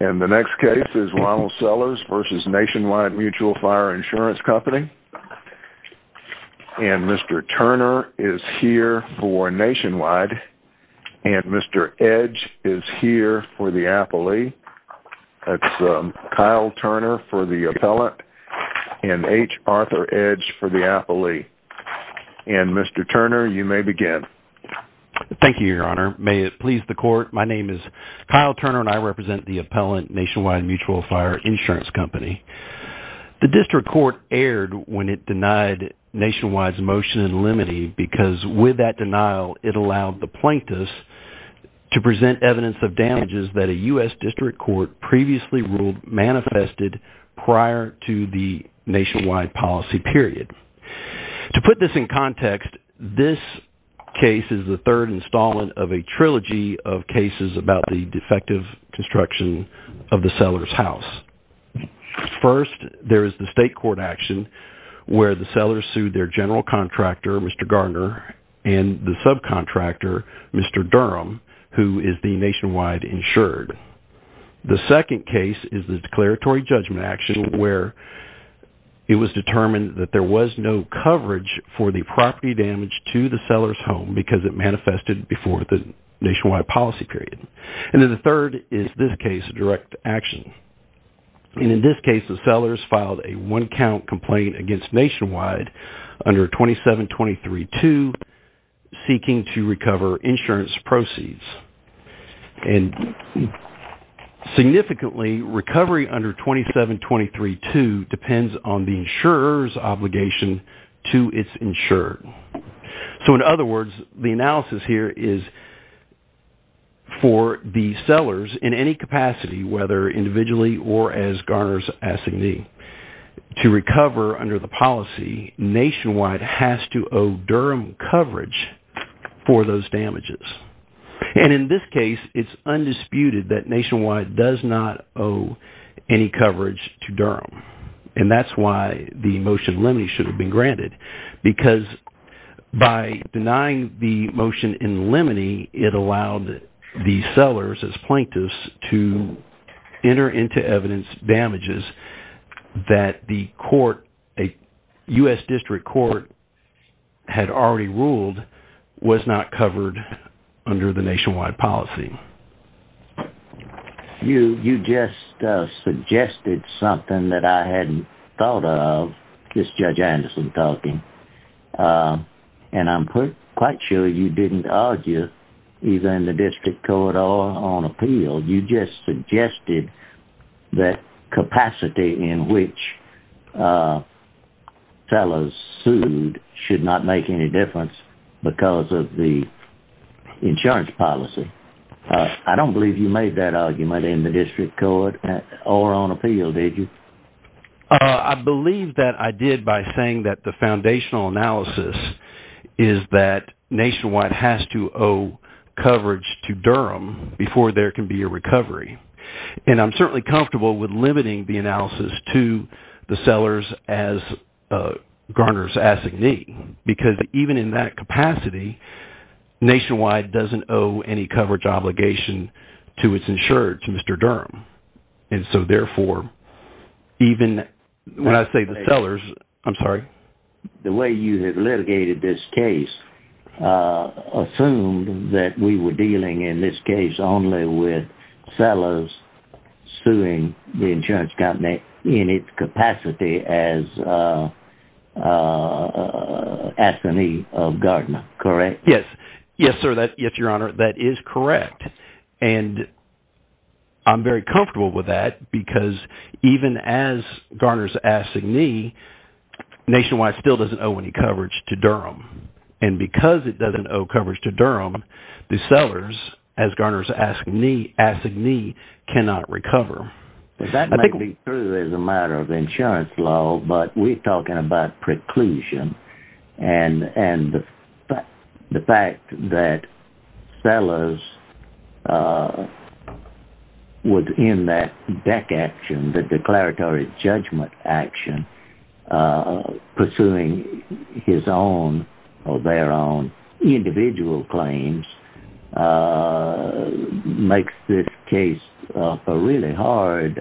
And the next case is Ronald Sellers v. Nationwide Mutual Fire Insurance Company. And Mr. Turner is here for Nationwide. And Mr. Edge is here for the Appellee. That's Kyle Turner for the Appellant. And H. Arthur Edge for the Appellee. And Mr. Turner, you may begin. Thank you, Your Honor. May it please the Appellant, Nationwide Mutual Fire Insurance Company. The district court erred when it denied Nationwide's motion in limine because with that denial it allowed the plaintiffs to present evidence of damages that a U.S. district court previously ruled manifested prior to the Nationwide policy period. To put this in context, this case is the third installment of a trilogy of cases about the defective construction of the Sellers' house. First, there is the state court action where the Sellers sued their general contractor, Mr. Garner, and the subcontractor, Mr. Durham, who is the Nationwide insured. The second case is the declaratory judgment action where it was determined that there was no coverage for the property damage to the Sellers' home because it manifested before the Nationwide policy period. And then the third is this case, direct action. And in this case, the Sellers filed a one-count complaint against Nationwide under 2723-2 seeking to recover insurance proceeds. And significantly, recovery under 2723-2 depends on the insurer's obligation to its insured. So in other words, the analysis here is for the Sellers in any capacity, whether individually or as Garner's assignee, to recover under the policy, Nationwide has to owe Durham coverage for those damages. And in this case, it's undisputed that Nationwide does not owe any coverage to Durham. And that's why the motion in limine should have been granted because by denying the motion in limine, it allowed the Sellers as plaintiffs to enter into evidence damages that the court, a U.S. District Court, had already ruled was not covered under the Nationwide policy. You just suggested something that I hadn't thought of. This is Judge Anderson talking. And I'm quite sure you didn't argue either in the District Court or on appeal. You just suggested that capacity in which Sellers sued should not make any difference because of the I don't believe you made that argument in the District Court or on appeal, did you? I believe that I did by saying that the foundational analysis is that Nationwide has to owe coverage to Durham before there can be a recovery. And I'm certainly comfortable with limiting the analysis to the Sellers as Garner's assignee because even in that capacity, Nationwide doesn't owe any coverage obligation to its insurer, to Mr. Durham. And so therefore, even when I say the Sellers, I'm sorry? The way you have litigated this case assumed that we were dealing in this case only with Sellers suing the insurance company in its capacity as assignee of Garner, correct? Yes. Yes, sir. Yes, Your Honor, that is correct. And I'm very comfortable with that because even as Garner's assignee, Nationwide still doesn't owe any coverage to Durham. And because it doesn't owe coverage to Durham, the Sellers as Garner's assignee cannot recover. That may be true as a matter of insurance law, but we're talking about preclusion. And the fact that Sellers was in that deck action, the declaratory judgment action, pursuing his own or their own individual claims makes this case a really hard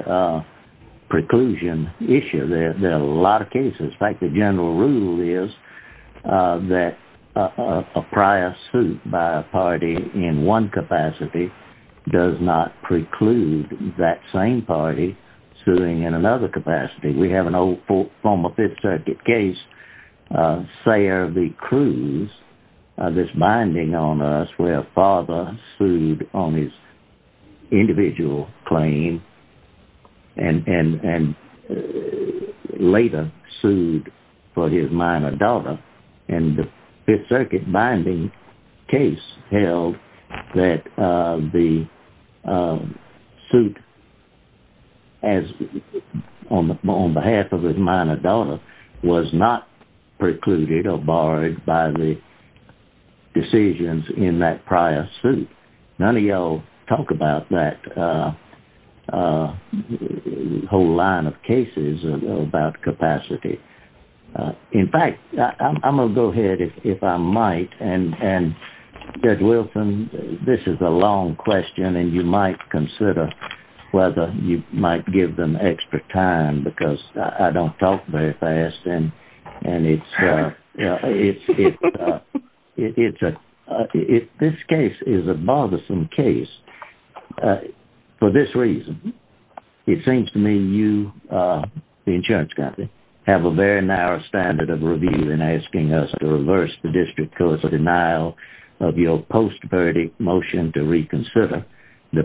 preclusion issue. There are a lot of cases. In fact, the general rule is that a prior suit by a party in one capacity does not preclude that same party suing in another capacity. We have an old former Fifth Circuit case, Sayer v. Cruz, this binding on us where a father sued on his individual claim and later sued for his minor daughter. And the Fifth Circuit binding case held that the suit on behalf of his minor daughter was not precluded or barred by the decisions in that prior suit. None of y'all talk about that whole line of cases about capacity. In fact, I'm going to go ahead, if I might, and Judge Wilson, this is a long question, and you might consider whether you give them extra time because I don't talk very fast. This case is a bothersome case for this reason. It seems to me you, the insurance company, have a very narrow standard of review in asking us to reverse the district court's denial of your post-verdict motion to reconsider the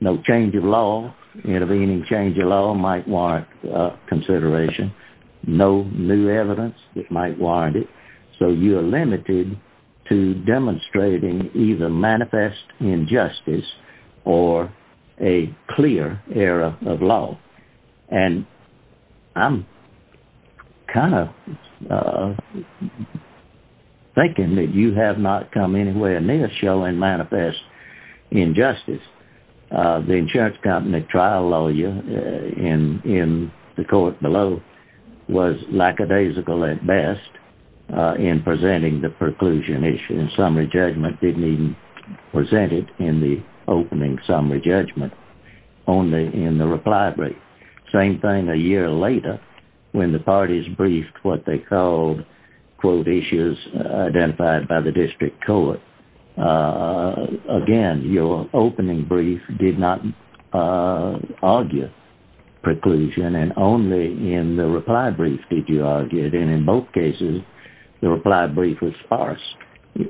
no change of law. Intervening change of law might warrant consideration. No new evidence that might warrant it. So you are limited to demonstrating either manifest injustice or a clear error of law. And I'm kind of thinking that you have not come anywhere near showing manifest injustice. The insurance company trial lawyer in the court below was lackadaisical at best in presenting the preclusion issue and summary judgment didn't even present it in the opening summary judgment, only in the reply brief. Same thing a year later when the parties briefed they called issues identified by the district court. Again, your opening brief did not argue preclusion and only in the reply brief did you argue it. And in both cases, the reply brief was sparse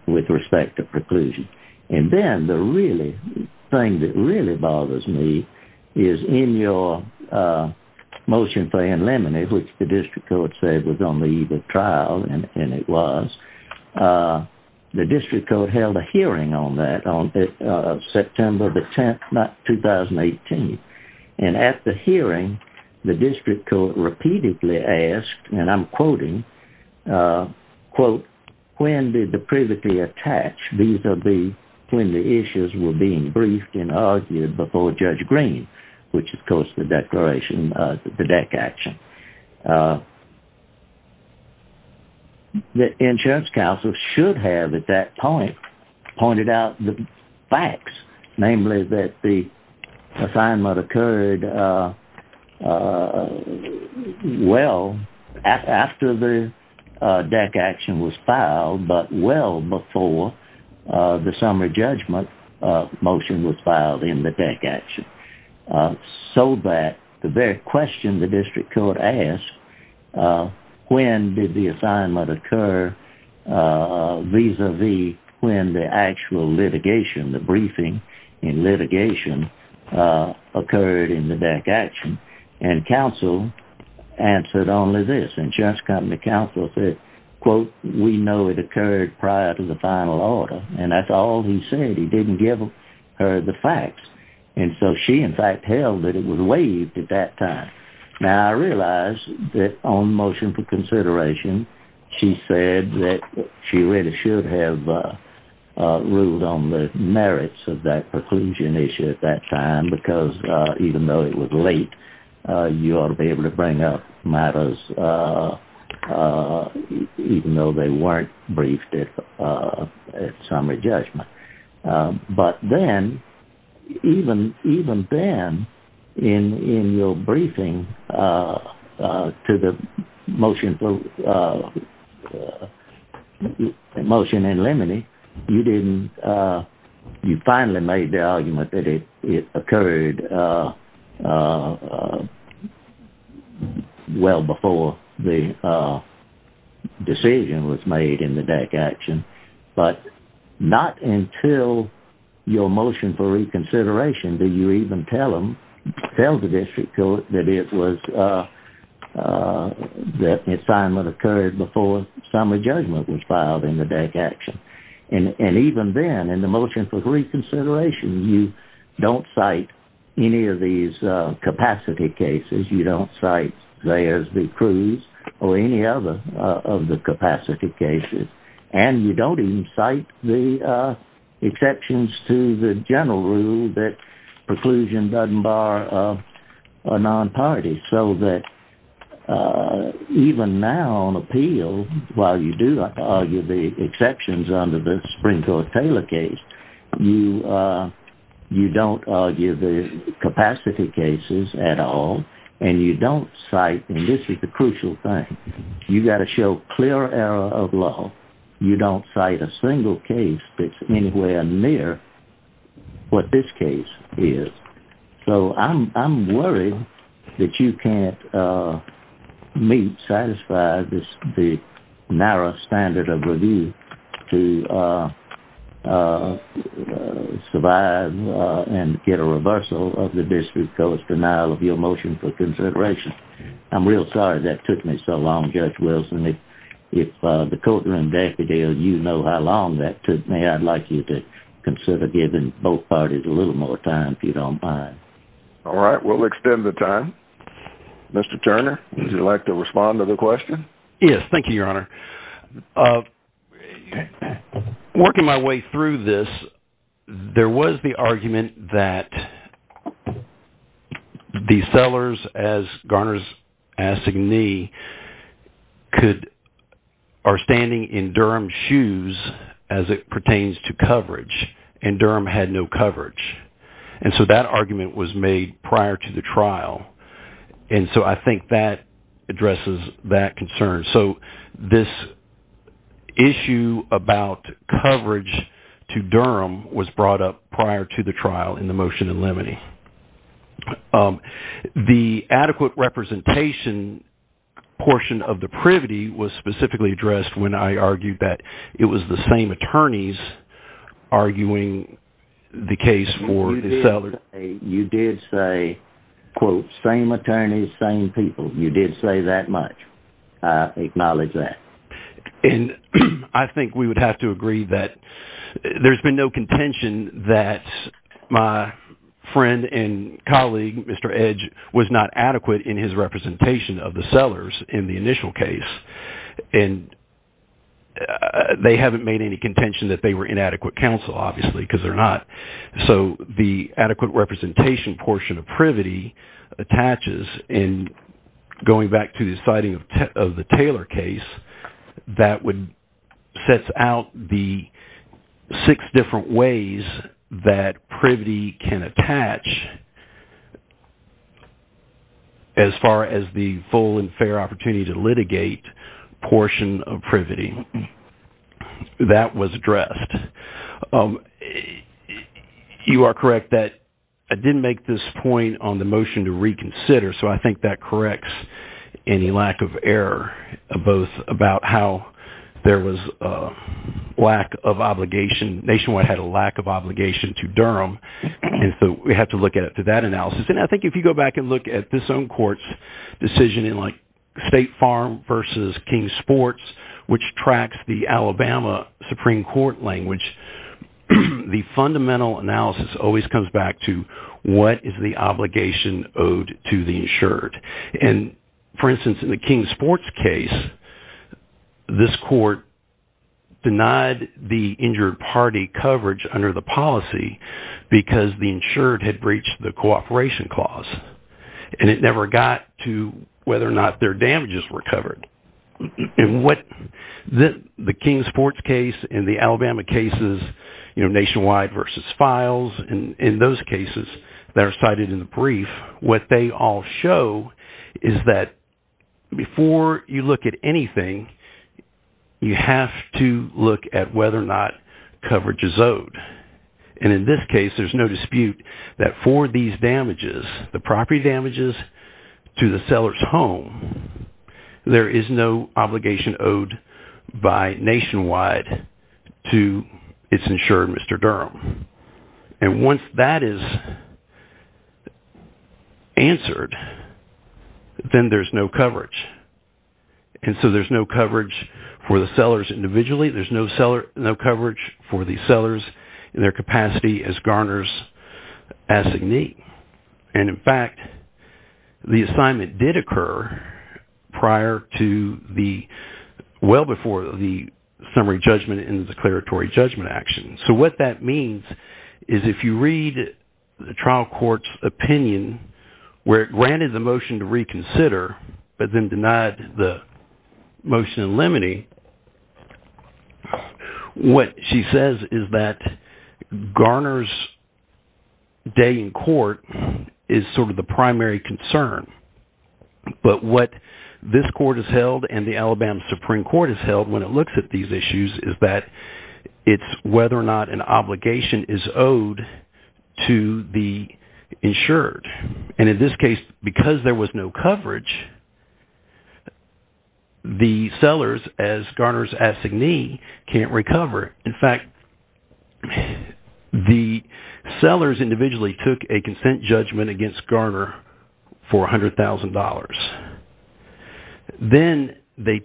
with respect to preclusion. And then the thing that really the trial, and it was, the district court held a hearing on that on September the 10th, not 2018. And at the hearing, the district court repeatedly asked, and I'm quoting, quote, when did the privately attached vis-a-vis when the issues were being briefed and argued before Judge Green, which is of course the declaration, the deck action. The insurance counsel should have at that point pointed out the facts, namely that the assignment occurred well after the deck action was filed, but well before the summary judgment motion was filed in the deck action. So that the very question the district court asked, when did the assignment occur vis-a-vis when the actual litigation, the briefing in litigation occurred in the deck action? And counsel answered only this. Insurance company counsel said, quote, we know it occurred prior to the final order. And that's all he said. He didn't give her the facts. And so she in fact held that it was waived at that time. Now I realize that on motion for consideration, she said that she really should have ruled on the merits of that preclusion issue at that time, because even though it was late, you ought to be able to bring up matters even though they weren't briefed at summary judgment. But then, even then in your briefing to the motion in limine, you didn't, you finally made the argument that it occurred well before the decision was made in the deck action. But not until your motion for reconsideration do you even tell them, tell the district court that it was, that assignment occurred before summary judgment was filed in the deck action. And even then in the motion for reconsideration, you don't cite any of these capacity cases. You don't cite Zayers v. Cruz or any other of the capacity cases. And you don't even cite the exceptions to the general rule that preclusion doesn't bar a non-party. So that even now on appeal, while you do argue the exceptions under the general rule, you don't argue the capacity cases at all. And you don't cite, and this is the crucial thing, you got to show clear error of law. You don't cite a single case that's anywhere near what this case is. So I'm worried that you can't meet, satisfy this, the narrow standard of review to survive and get a reversal of the district court's denial of your motion for consideration. I'm real sorry that took me so long, Judge Wilson. If the courtroom decadal, you know how long that took me. I'd like you to consider giving both parties a little more time if you don't mind. All right. We'll extend the time. Mr. Turner, would you like to respond to the question? Yes. Thank you, Your Honor. Working my way through this, there was the argument that the sellers, as Garner's asking me, are standing in Durham's shoes as it pertains to coverage, and Durham had no coverage. And so that argument was made prior to the trial. And so I think that addresses that concern. So this issue about coverage to Durham was brought up prior to the trial in the motion in limine. The adequate representation portion of the privity was specifically addressed when I argued that it was the same attorneys arguing the case for the seller. You did say, quote, same attorneys, same people. You did say that much. I acknowledge that. And I think we would have to agree that there's been no contention that my friend and colleague, Mr. Edge, was not adequate in his representation of the sellers in the initial case. And they haven't made any contention that they were inadequate counsel, obviously, because they're not. So the adequate representation portion of privity attaches in going back to the deciding of the Taylor case that would set out the six different ways that privity can attach as far as the full and fair opportunity to litigate portion of privity. That was addressed. You are correct that I didn't make this point on the motion to reconsider. So I think that corrects any lack of error, both about how there was a lack of obligation. Nationwide had a lack of obligation to Durham. And so we have to look at it to that analysis. And I think if you go back and look at this own court's decision in like State Farm versus King Sports, which tracks the analysis, always comes back to what is the obligation owed to the insured. And, for instance, in the King Sports case, this court denied the injured party coverage under the policy because the insured had breached the cooperation clause. And it never got to whether or not their in those cases that are cited in the brief, what they all show is that before you look at anything, you have to look at whether or not coverage is owed. And in this case, there's no dispute that for these damages, the property damages to the seller's home, there is no obligation owed by Nationwide to its insured Mr. Durham. And once that is answered, then there's no coverage. And so there's no coverage for the sellers individually, there's no coverage for the sellers in their capacity as Garner's designee. And in fact, the assignment did occur prior to the well before the summary judgment in the declaratory judgment action. So what that means is if you read the trial court's opinion, where it granted the motion to reconsider, but then denied the motion in limine, what she says is that Garner's day in court is sort of the primary concern. But what this court has held and the Alabama Supreme Court has held when it looks at these issues is that it's whether or not an obligation is owed to the insured. And in this case, because there was no coverage, the sellers as Garner's designee can't recover. In fact, the sellers individually took a consent judgment against Garner for $100,000. Then they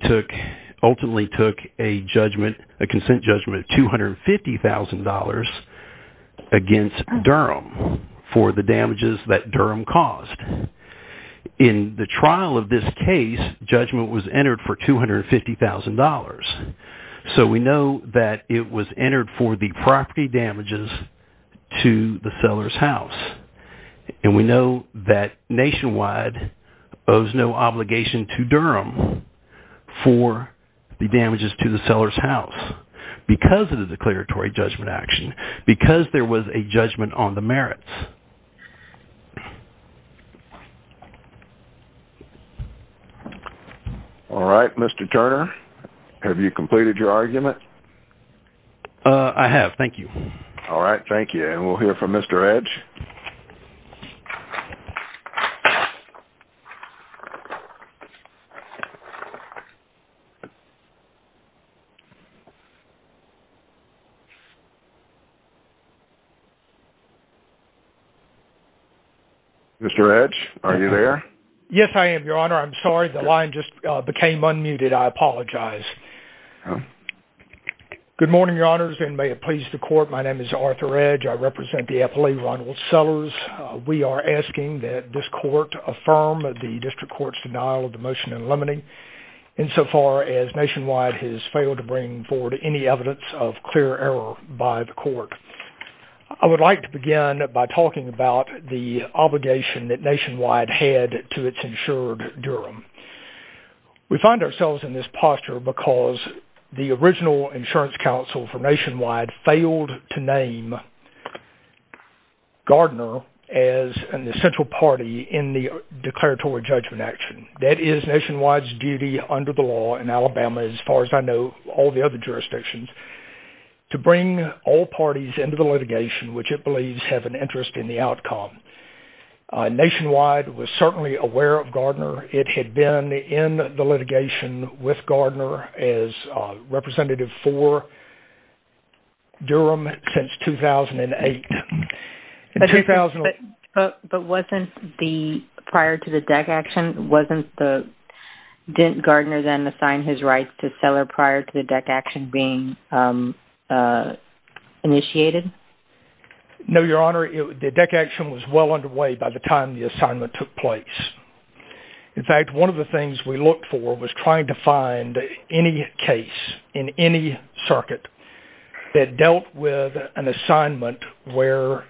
ultimately took a judgment, a consent judgment of $250,000 against Durham for the damages that Durham caused. In the trial of this case, judgment was entered for $250,000. So we know that it was entered for the property damages to the seller's house. And we know that Nationwide owes no obligation to Durham for the damages to the seller's house because of the declaratory judgment action, because there was a judgment on the merits. All right, Mr. Turner, have you completed your argument? I have. Thank you. All right. Thank you. And we'll hear from Mr. Edge. Mr. Edge, are you there? Yes, I am, Your Honor. I'm sorry. The line just became unmuted. I apologize. Good morning, Your Honors, and may it please the court. My name is Arthur Edge. I represent the affilee, Ronald Sellers. We are asking that this court affirm the district court's denial of the evidence of clear error by the court. I would like to begin by talking about the obligation that Nationwide had to its insured Durham. We find ourselves in this posture because the original insurance counsel for Nationwide failed to name Gardner as an essential party in the declaratory judgment action. That is Nationwide's duty under the law in Alabama, as far as I know, all the other jurisdictions, to bring all parties into the litigation which it believes have an interest in the outcome. Nationwide was certainly aware of Gardner. It had been in the litigation with Gardner as representative for Durham since 2008. But wasn't the prior to the DEC action, wasn't the, didn't Gardner then assign his rights to the DEC action being initiated? No, Your Honor, the DEC action was well underway by the time the assignment took place. In fact, one of the things we looked for was trying to find any case in any circuit that dealt with an assignment where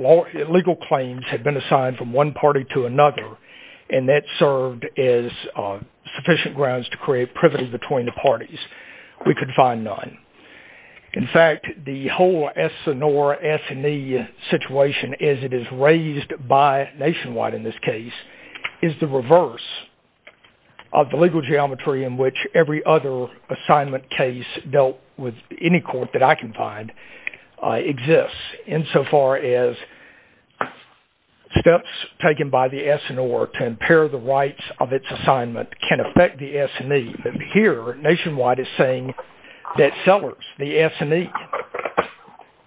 legal claims had been assigned from one party to we could find none. In fact, the whole Essanore, Essany situation as it is raised by Nationwide in this case is the reverse of the legal geometry in which every other assignment case dealt with any court that I can find exists insofar as steps taken by the Essanore to impair the rights of its is saying that Sellers, the Essany,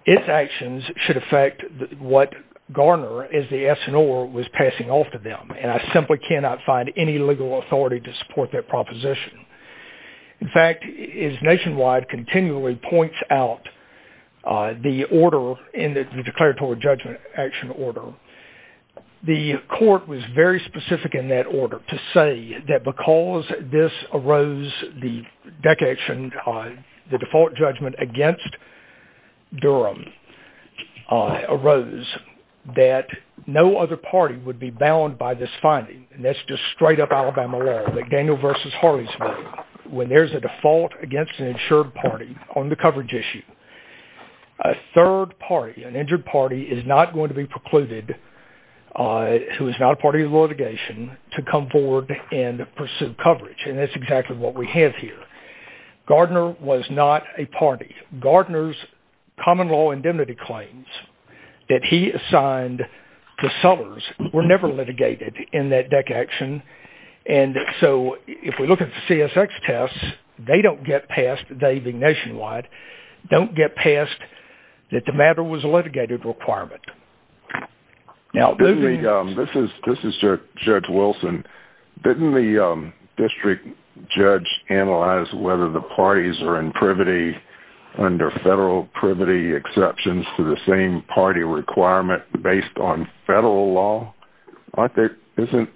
its actions should affect what Gardner as the Essanore was passing off to them. And I simply cannot find any legal authority to support that proposition. In fact, as Nationwide continually points out the order in the declaratory judgment action order, the court was very specific in that order to say that because this arose the DEC action, the default judgment against Durham arose that no other party would be bound by this finding. And that's just straight up Alabama law that Daniel versus Harley's when there's a default against an insured party on the coverage issue. A third party, an injured party is not going to be precluded who is not a party of litigation to come forward and pursue coverage. And that's exactly what we have here. Gardner was not a party. Gardner's common law indemnity claims that he assigned to Sellers were never litigated in that DEC action. And so if we look at the CSX tests, they don't get past, they being Nationwide, don't get past that the matter was a litigated requirement. This is Judge Wilson. Didn't the district judge analyze whether the parties are in privity under federal privity exceptions to the same party requirement based on federal law? Isn't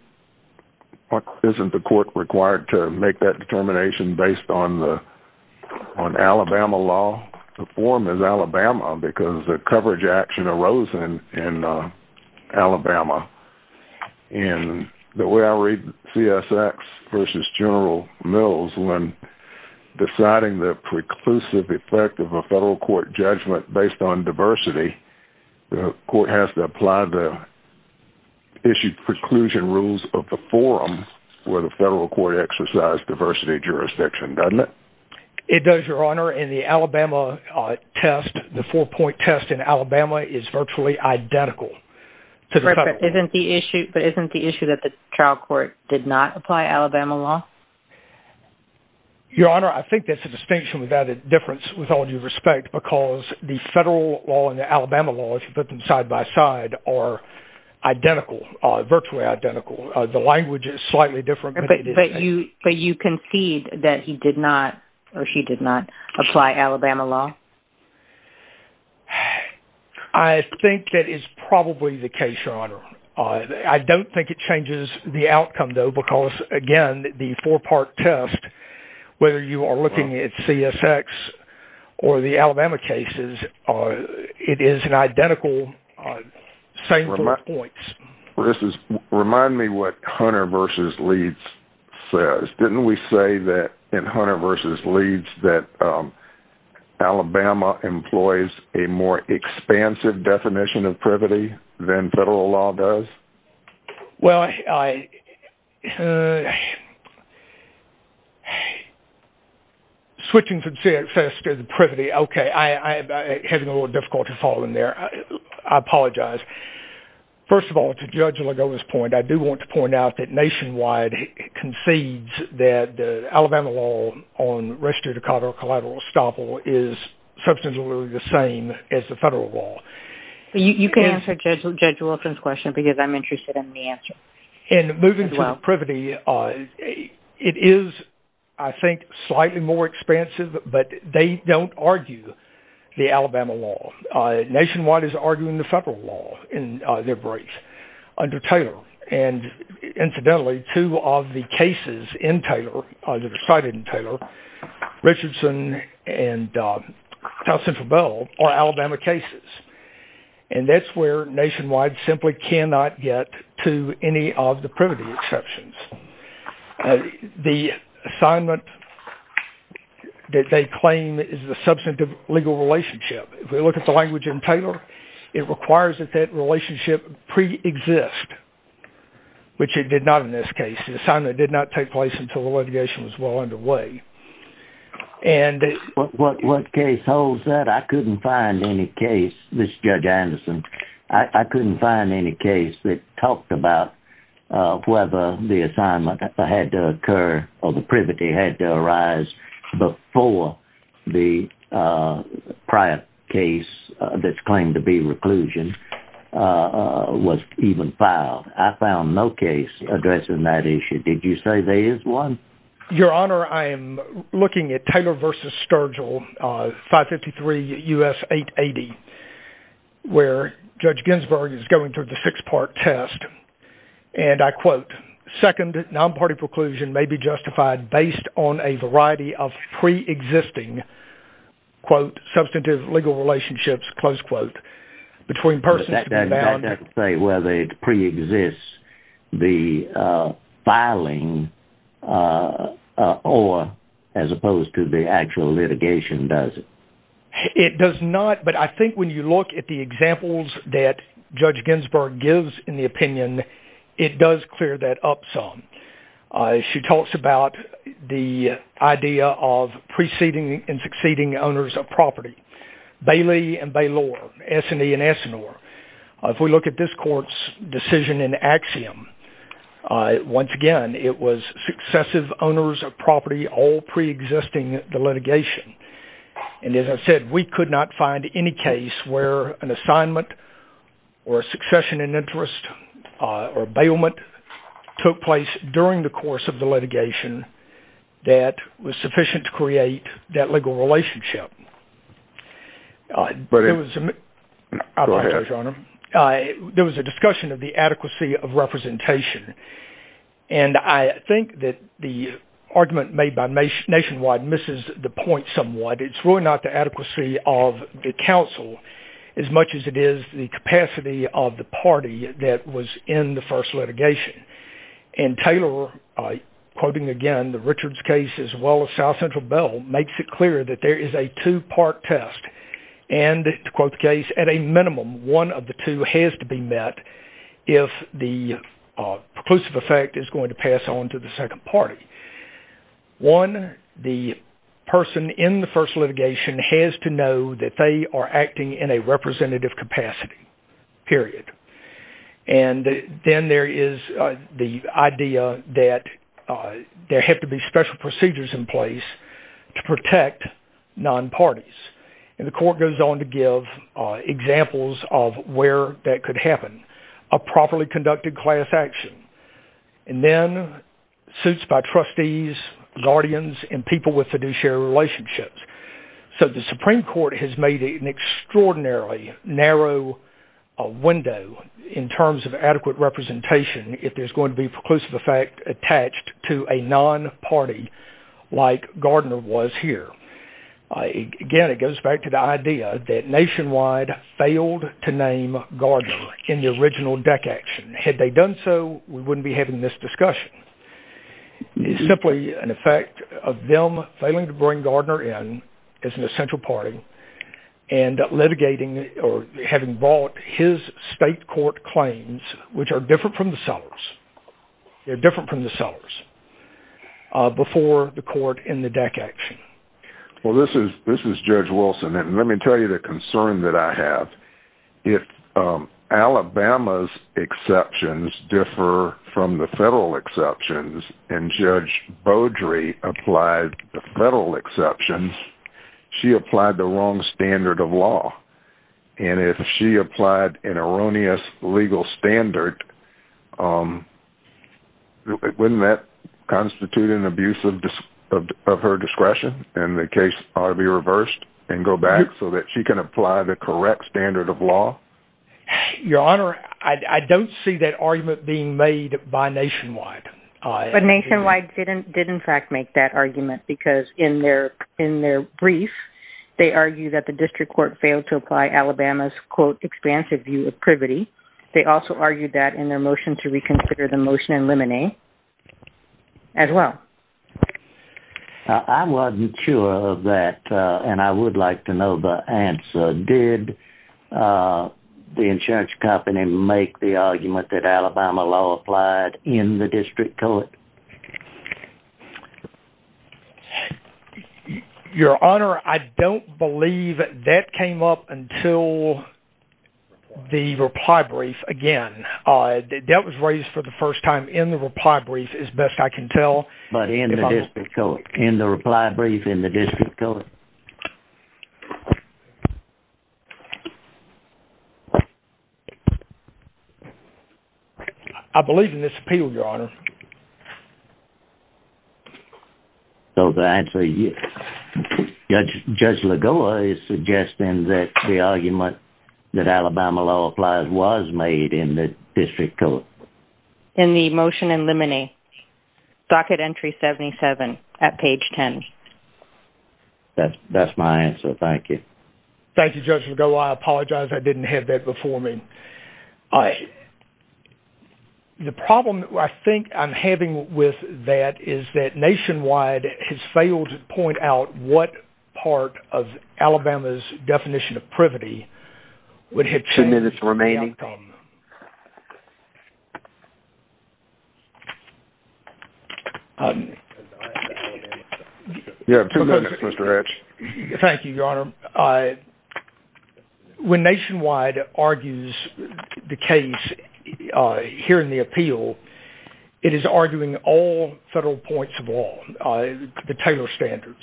the court required to make that determination based on Alabama law? The coverage action arose in Alabama. And the way I read CSX versus General Mills when deciding the preclusive effect of a federal court judgment based on diversity, the court has to apply the issued preclusion rules of the forum where the federal court exercise diversity doesn't it? It does, Your Honor. And the Alabama test, the four point test in Alabama is virtually identical. But isn't the issue that the trial court did not apply Alabama law? Your Honor, I think that's a distinction without a difference with all due respect, because the federal law and the Alabama law, if you put them side by side, are identical, virtually identical. The language is slightly different. But you concede that he did not or she did not apply Alabama law? I think that is probably the case, Your Honor. I don't think it changes the outcome, though, because again, the four part test, whether you are looking at CSX or the Alabama cases, it is an identical, same four points. Remind me what Hunter versus Leeds says. Didn't we say that in Hunter versus Leeds that Alabama employs a more expansive definition of privity than federal law does? Well, I'm switching from CSX to the privity. Okay. I'm having a little difficult to follow in there. I apologize. First of all, to Judge Legola's point, I do want to point out that nationwide concedes that the Alabama law on registered or collateral estoppel is substantially the same as the federal law. You can answer Judge Wilson's question because I'm interested in the answer. And moving to the privity, it is, I think, slightly more expansive, but they don't argue the Alabama law. Nationwide is arguing the federal law in their briefs under Taylor. And incidentally, two of the cases in Taylor, that are cited in Taylor, Richardson and Leeds, have the privity exceptions. The assignment that they claim is the substantive legal relationship. If we look at the language in Taylor, it requires that that relationship pre-exists, which it did not in this case. The assignment did not take place until the litigation was well underway. What case holds that? I couldn't find any case, this is Judge Anderson, I couldn't find any case that talked about whether the assignment had to occur or the privity had to arise before the prior case that's claimed to be reclusion was even filed. I found no case addressing that issue. Did you say there is one? Your Honor, I am looking at Taylor versus Sturgill, 553 U.S. 880, where Judge Ginsburg is going through the six-part test. And I quote, second, non-party preclusion may be justified based on a variety of pre-existing, quote, substantive legal relationships, close quote, between persons. That doesn't say whether it pre-exists the filing or as opposed to the actual litigation, does it? It does not, but I think when you look at the examples that Judge Ginsburg gives in the opinion, it does clear that up some. She talks about the idea of preceding and succeeding owners of property, Bailey and Bailor, Essany and Essanor. If we look at this court's decision in axiom, once again, it was successive owners of property all pre-existing the litigation. And as I said, we could not find any case where an assignment or a succession in interest or bailment took place during the course of the litigation that was sufficient to create that legal relationship. There was a discussion of the adequacy of representation. And I think that the argument made by Nationwide misses the point somewhat. It's really not the adequacy of the counsel as much as it is the capacity of the party that was in the first makes it clear that there is a two-part test. And to quote the case, at a minimum, one of the two has to be met if the preclusive effect is going to pass on to the second party. One, the person in the first litigation has to know that they are acting in a representative capacity, period. And then there is the idea that there have to be special procedures in place to protect non-parties. And the court goes on to give examples of where that could happen, a properly conducted class action, and then suits by trustees, guardians, and people with fiduciary relationships. So the Supreme Court has made an extraordinarily narrow window in terms of adequate representation if there's going to be preclusive effect attached to a non-party like Gardner was here. Again, it goes back to the idea that Nationwide failed to name Gardner in the original deck action. Had they done so, we wouldn't be having this discussion. It's simply an effect of them failing to bring Gardner in as an essential party and litigating or having bought his state court claims, which are different from the Sellers. They're different from the Sellers before the court in the deck action. Well, this is Judge Wilson. And let me tell you the concern that I have. If Alabama's exceptions differ from the federal exceptions, and Judge Beaudry applied the federal exceptions, she applied the wrong standard of law. And if she applied an erroneous legal standard, wouldn't that constitute an abuse of her discretion? And the case ought to be reversed and go back so that she can apply the correct standard of law? Your Honor, I don't see that argument being made by Nationwide. But Nationwide did in fact make that argument because in their brief, they argue that the district court failed to apply Alabama's, quote, expansive view of privity. They also argued that their motion to reconsider the motion and limine as well. I wasn't sure of that. And I would like to know the answer. Did the insurance company make the argument that Alabama law applied in the district court? Your Honor, I don't believe that came up until the reply brief again. That was raised for the first time in the reply brief, as best I can tell. But in the district court, in the reply brief, in the district court? I believe in this appeal, Your Honor. So the answer is yes. Judge Lagoa is suggesting that the argument that Alabama law applies was made in the district court. In the motion and limine, docket entry 77 at page 10. That's my answer. Thank you. Thank you, Judge Lagoa. I apologize. I didn't have that before me. The problem I think I'm having with that is that Nationwide has failed to point out what part of Alabama's definition of privity would have changed. Two minutes remaining. You have two minutes, Mr. Hatch. Thank you, Your Honor. When Nationwide argues the case here in the appeal, it is arguing all federal points of law, the Taylor standards.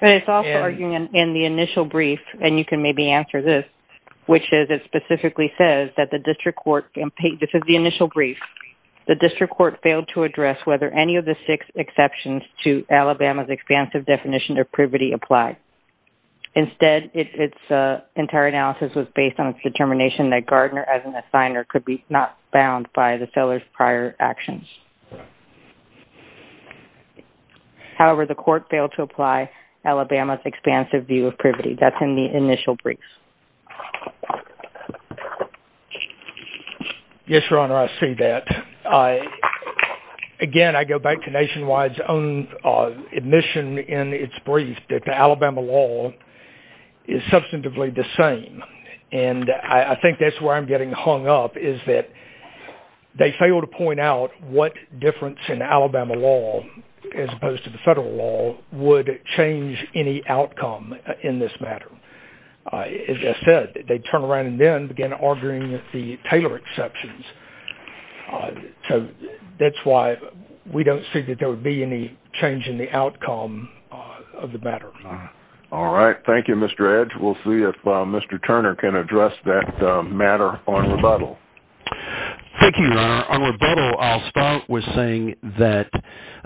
But it's also arguing in the initial brief, and you can maybe answer this, which is it specifically says that the district court, this is the initial brief, the district court failed to address whether any of the six exceptions to Alabama's expansive definition of privity apply. Instead, its entire analysis was based on its determination that Gardner as an assigner could be not bound by the seller's prior actions. However, the court failed to apply Alabama's expansive view of privity. That's in the initial brief. Yes, Your Honor, I see that. Again, I go back to Nationwide's own admission in its brief that the Alabama law is substantively the same. And I think that's where I'm getting hung up, is that they failed to point out what difference in Alabama law, as opposed to the federal law, would change any outcome in this matter. As I said, they turn around and then begin arguing the Taylor exceptions. So that's why we don't see that there would be any change in the outcome of the matter. All right. Thank you, Mr. Edge. We'll see if Mr. Turner can address that matter on rebuttal. Thank you, Your Honor. On rebuttal, I'll start with saying that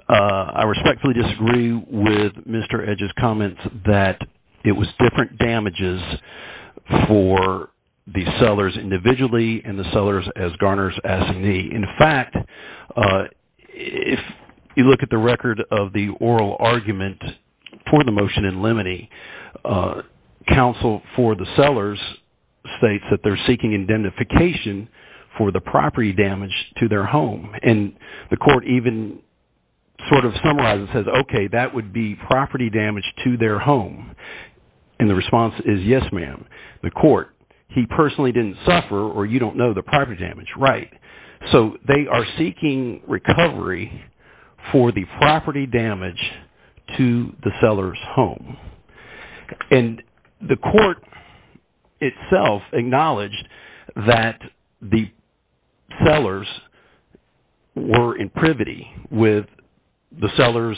I respectfully disagree with Mr. Edge's comments that it was different damages for the sellers individually and the sellers as Gardner's assignee. In fact, if you look at the record of the oral argument for the motion in limine, counsel for the sellers states that they're seeking indemnification for the property damage to their home. And the court even sort of summarizes and says, okay, that would be property damage to their home. And the response is, yes, ma'am. The court, he personally didn't suffer or you don't know the property damage. Right. So they are seeking recovery for the property damage to the seller's home. And the court itself acknowledged that the sellers were in privity with the sellers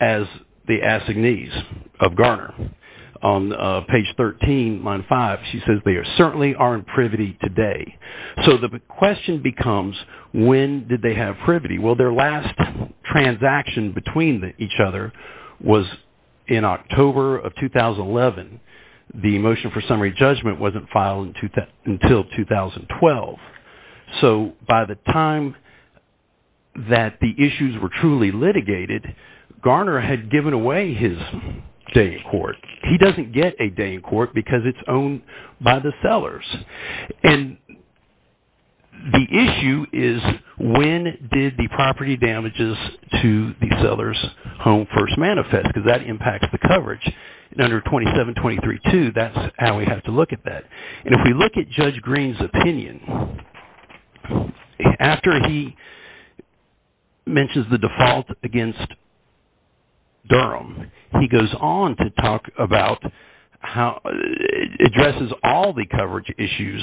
as the assignees of Gardner. On page 13, line five, she says they are certainly are in privity today. So the question becomes, when did they have privity? Well, their last transaction between each other was in October of 2011. The motion for summary judgment wasn't filed until 2012. So by the time that the issues were truly litigated, Gardner had given away his day in court. He doesn't get a day in court because it's owned by the sellers. And the issue is, when did the property damages to the seller's home first manifest? Because that impacts the coverage. Under 2723-2, that's how we have to look at that. And if we look at Judge Green's opinion, after he mentions the default against Durham, he goes on to talk about how it addresses all the coverage issues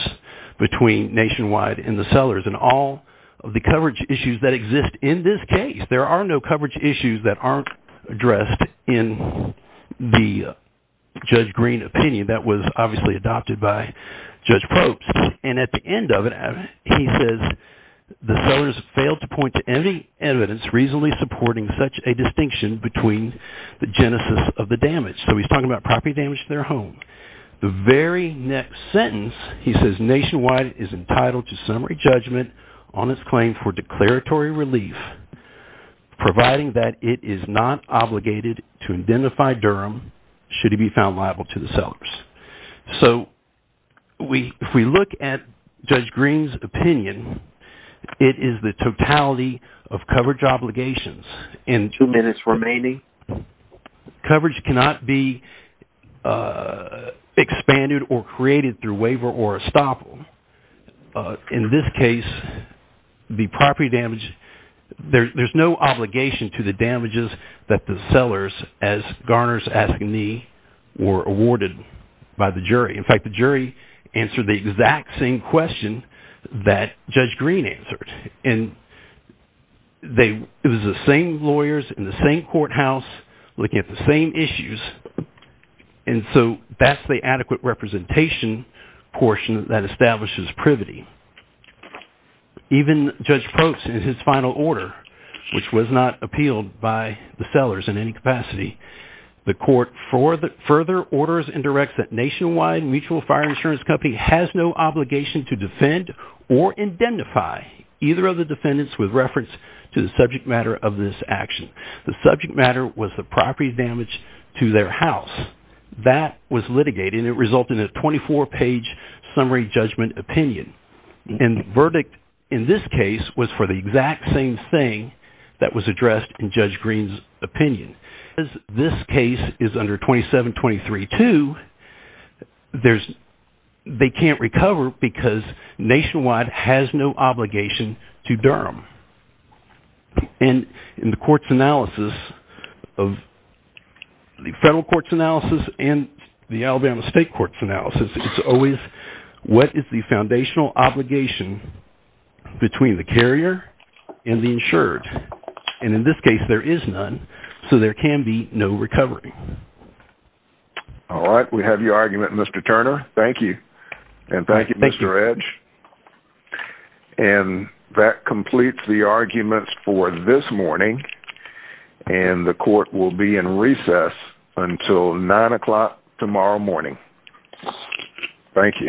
between Nationwide and the sellers and all of the coverage issues that exist in this case. There are no coverage issues that aren't addressed in the Judge Green opinion that was obviously adopted by Judge Probst. And at the end of it, he says the sellers failed to point to any evidence reasonably supporting such a distinction between the genesis of the damage. So he's talking about property damage to their home. The very next sentence, he says Nationwide is entitled to summary judgment on its claim for declaratory relief, providing that it is not obligated to identify Durham should it be found liable to the sellers. So if we look at Judge Green's opinion, it is the totality of coverage expanded or created through waiver or estoppel. In this case, the property damage, there's no obligation to the damages that the sellers, as Garner's asking me, were awarded by the jury. In fact, the jury answered the exact same question that Judge Green answered. And it was the same lawyers in the same courthouse looking at the same issues. And so that's the adequate representation portion that establishes privity. Even Judge Probst in his final order, which was not appealed by the sellers in any capacity, the court further orders and directs that Nationwide Mutual Fire Insurance Company has no obligation to defend or identify either of the defendants with reference to the subject matter of this action. The subject matter was the property damage to their house. That was litigated and it resulted in a 24-page summary judgment opinion. And the verdict in this case was for the exact same thing that was addressed in Judge Green's opinion. This case is under 2723-2. They can't recover because Nationwide has no obligation to Durham. And in the court's analysis of the federal court's analysis and the Alabama state court's analysis, it's always what is the foundational obligation between the carrier and the insured? And in this case, there is none, so there can be no recovery. All right. We have your argument, Mr. Turner. Thank you. And thank you, Mr. Edge. And that completes the arguments for this morning. And the court will be in recess until 9 o'clock tomorrow morning. Thank you.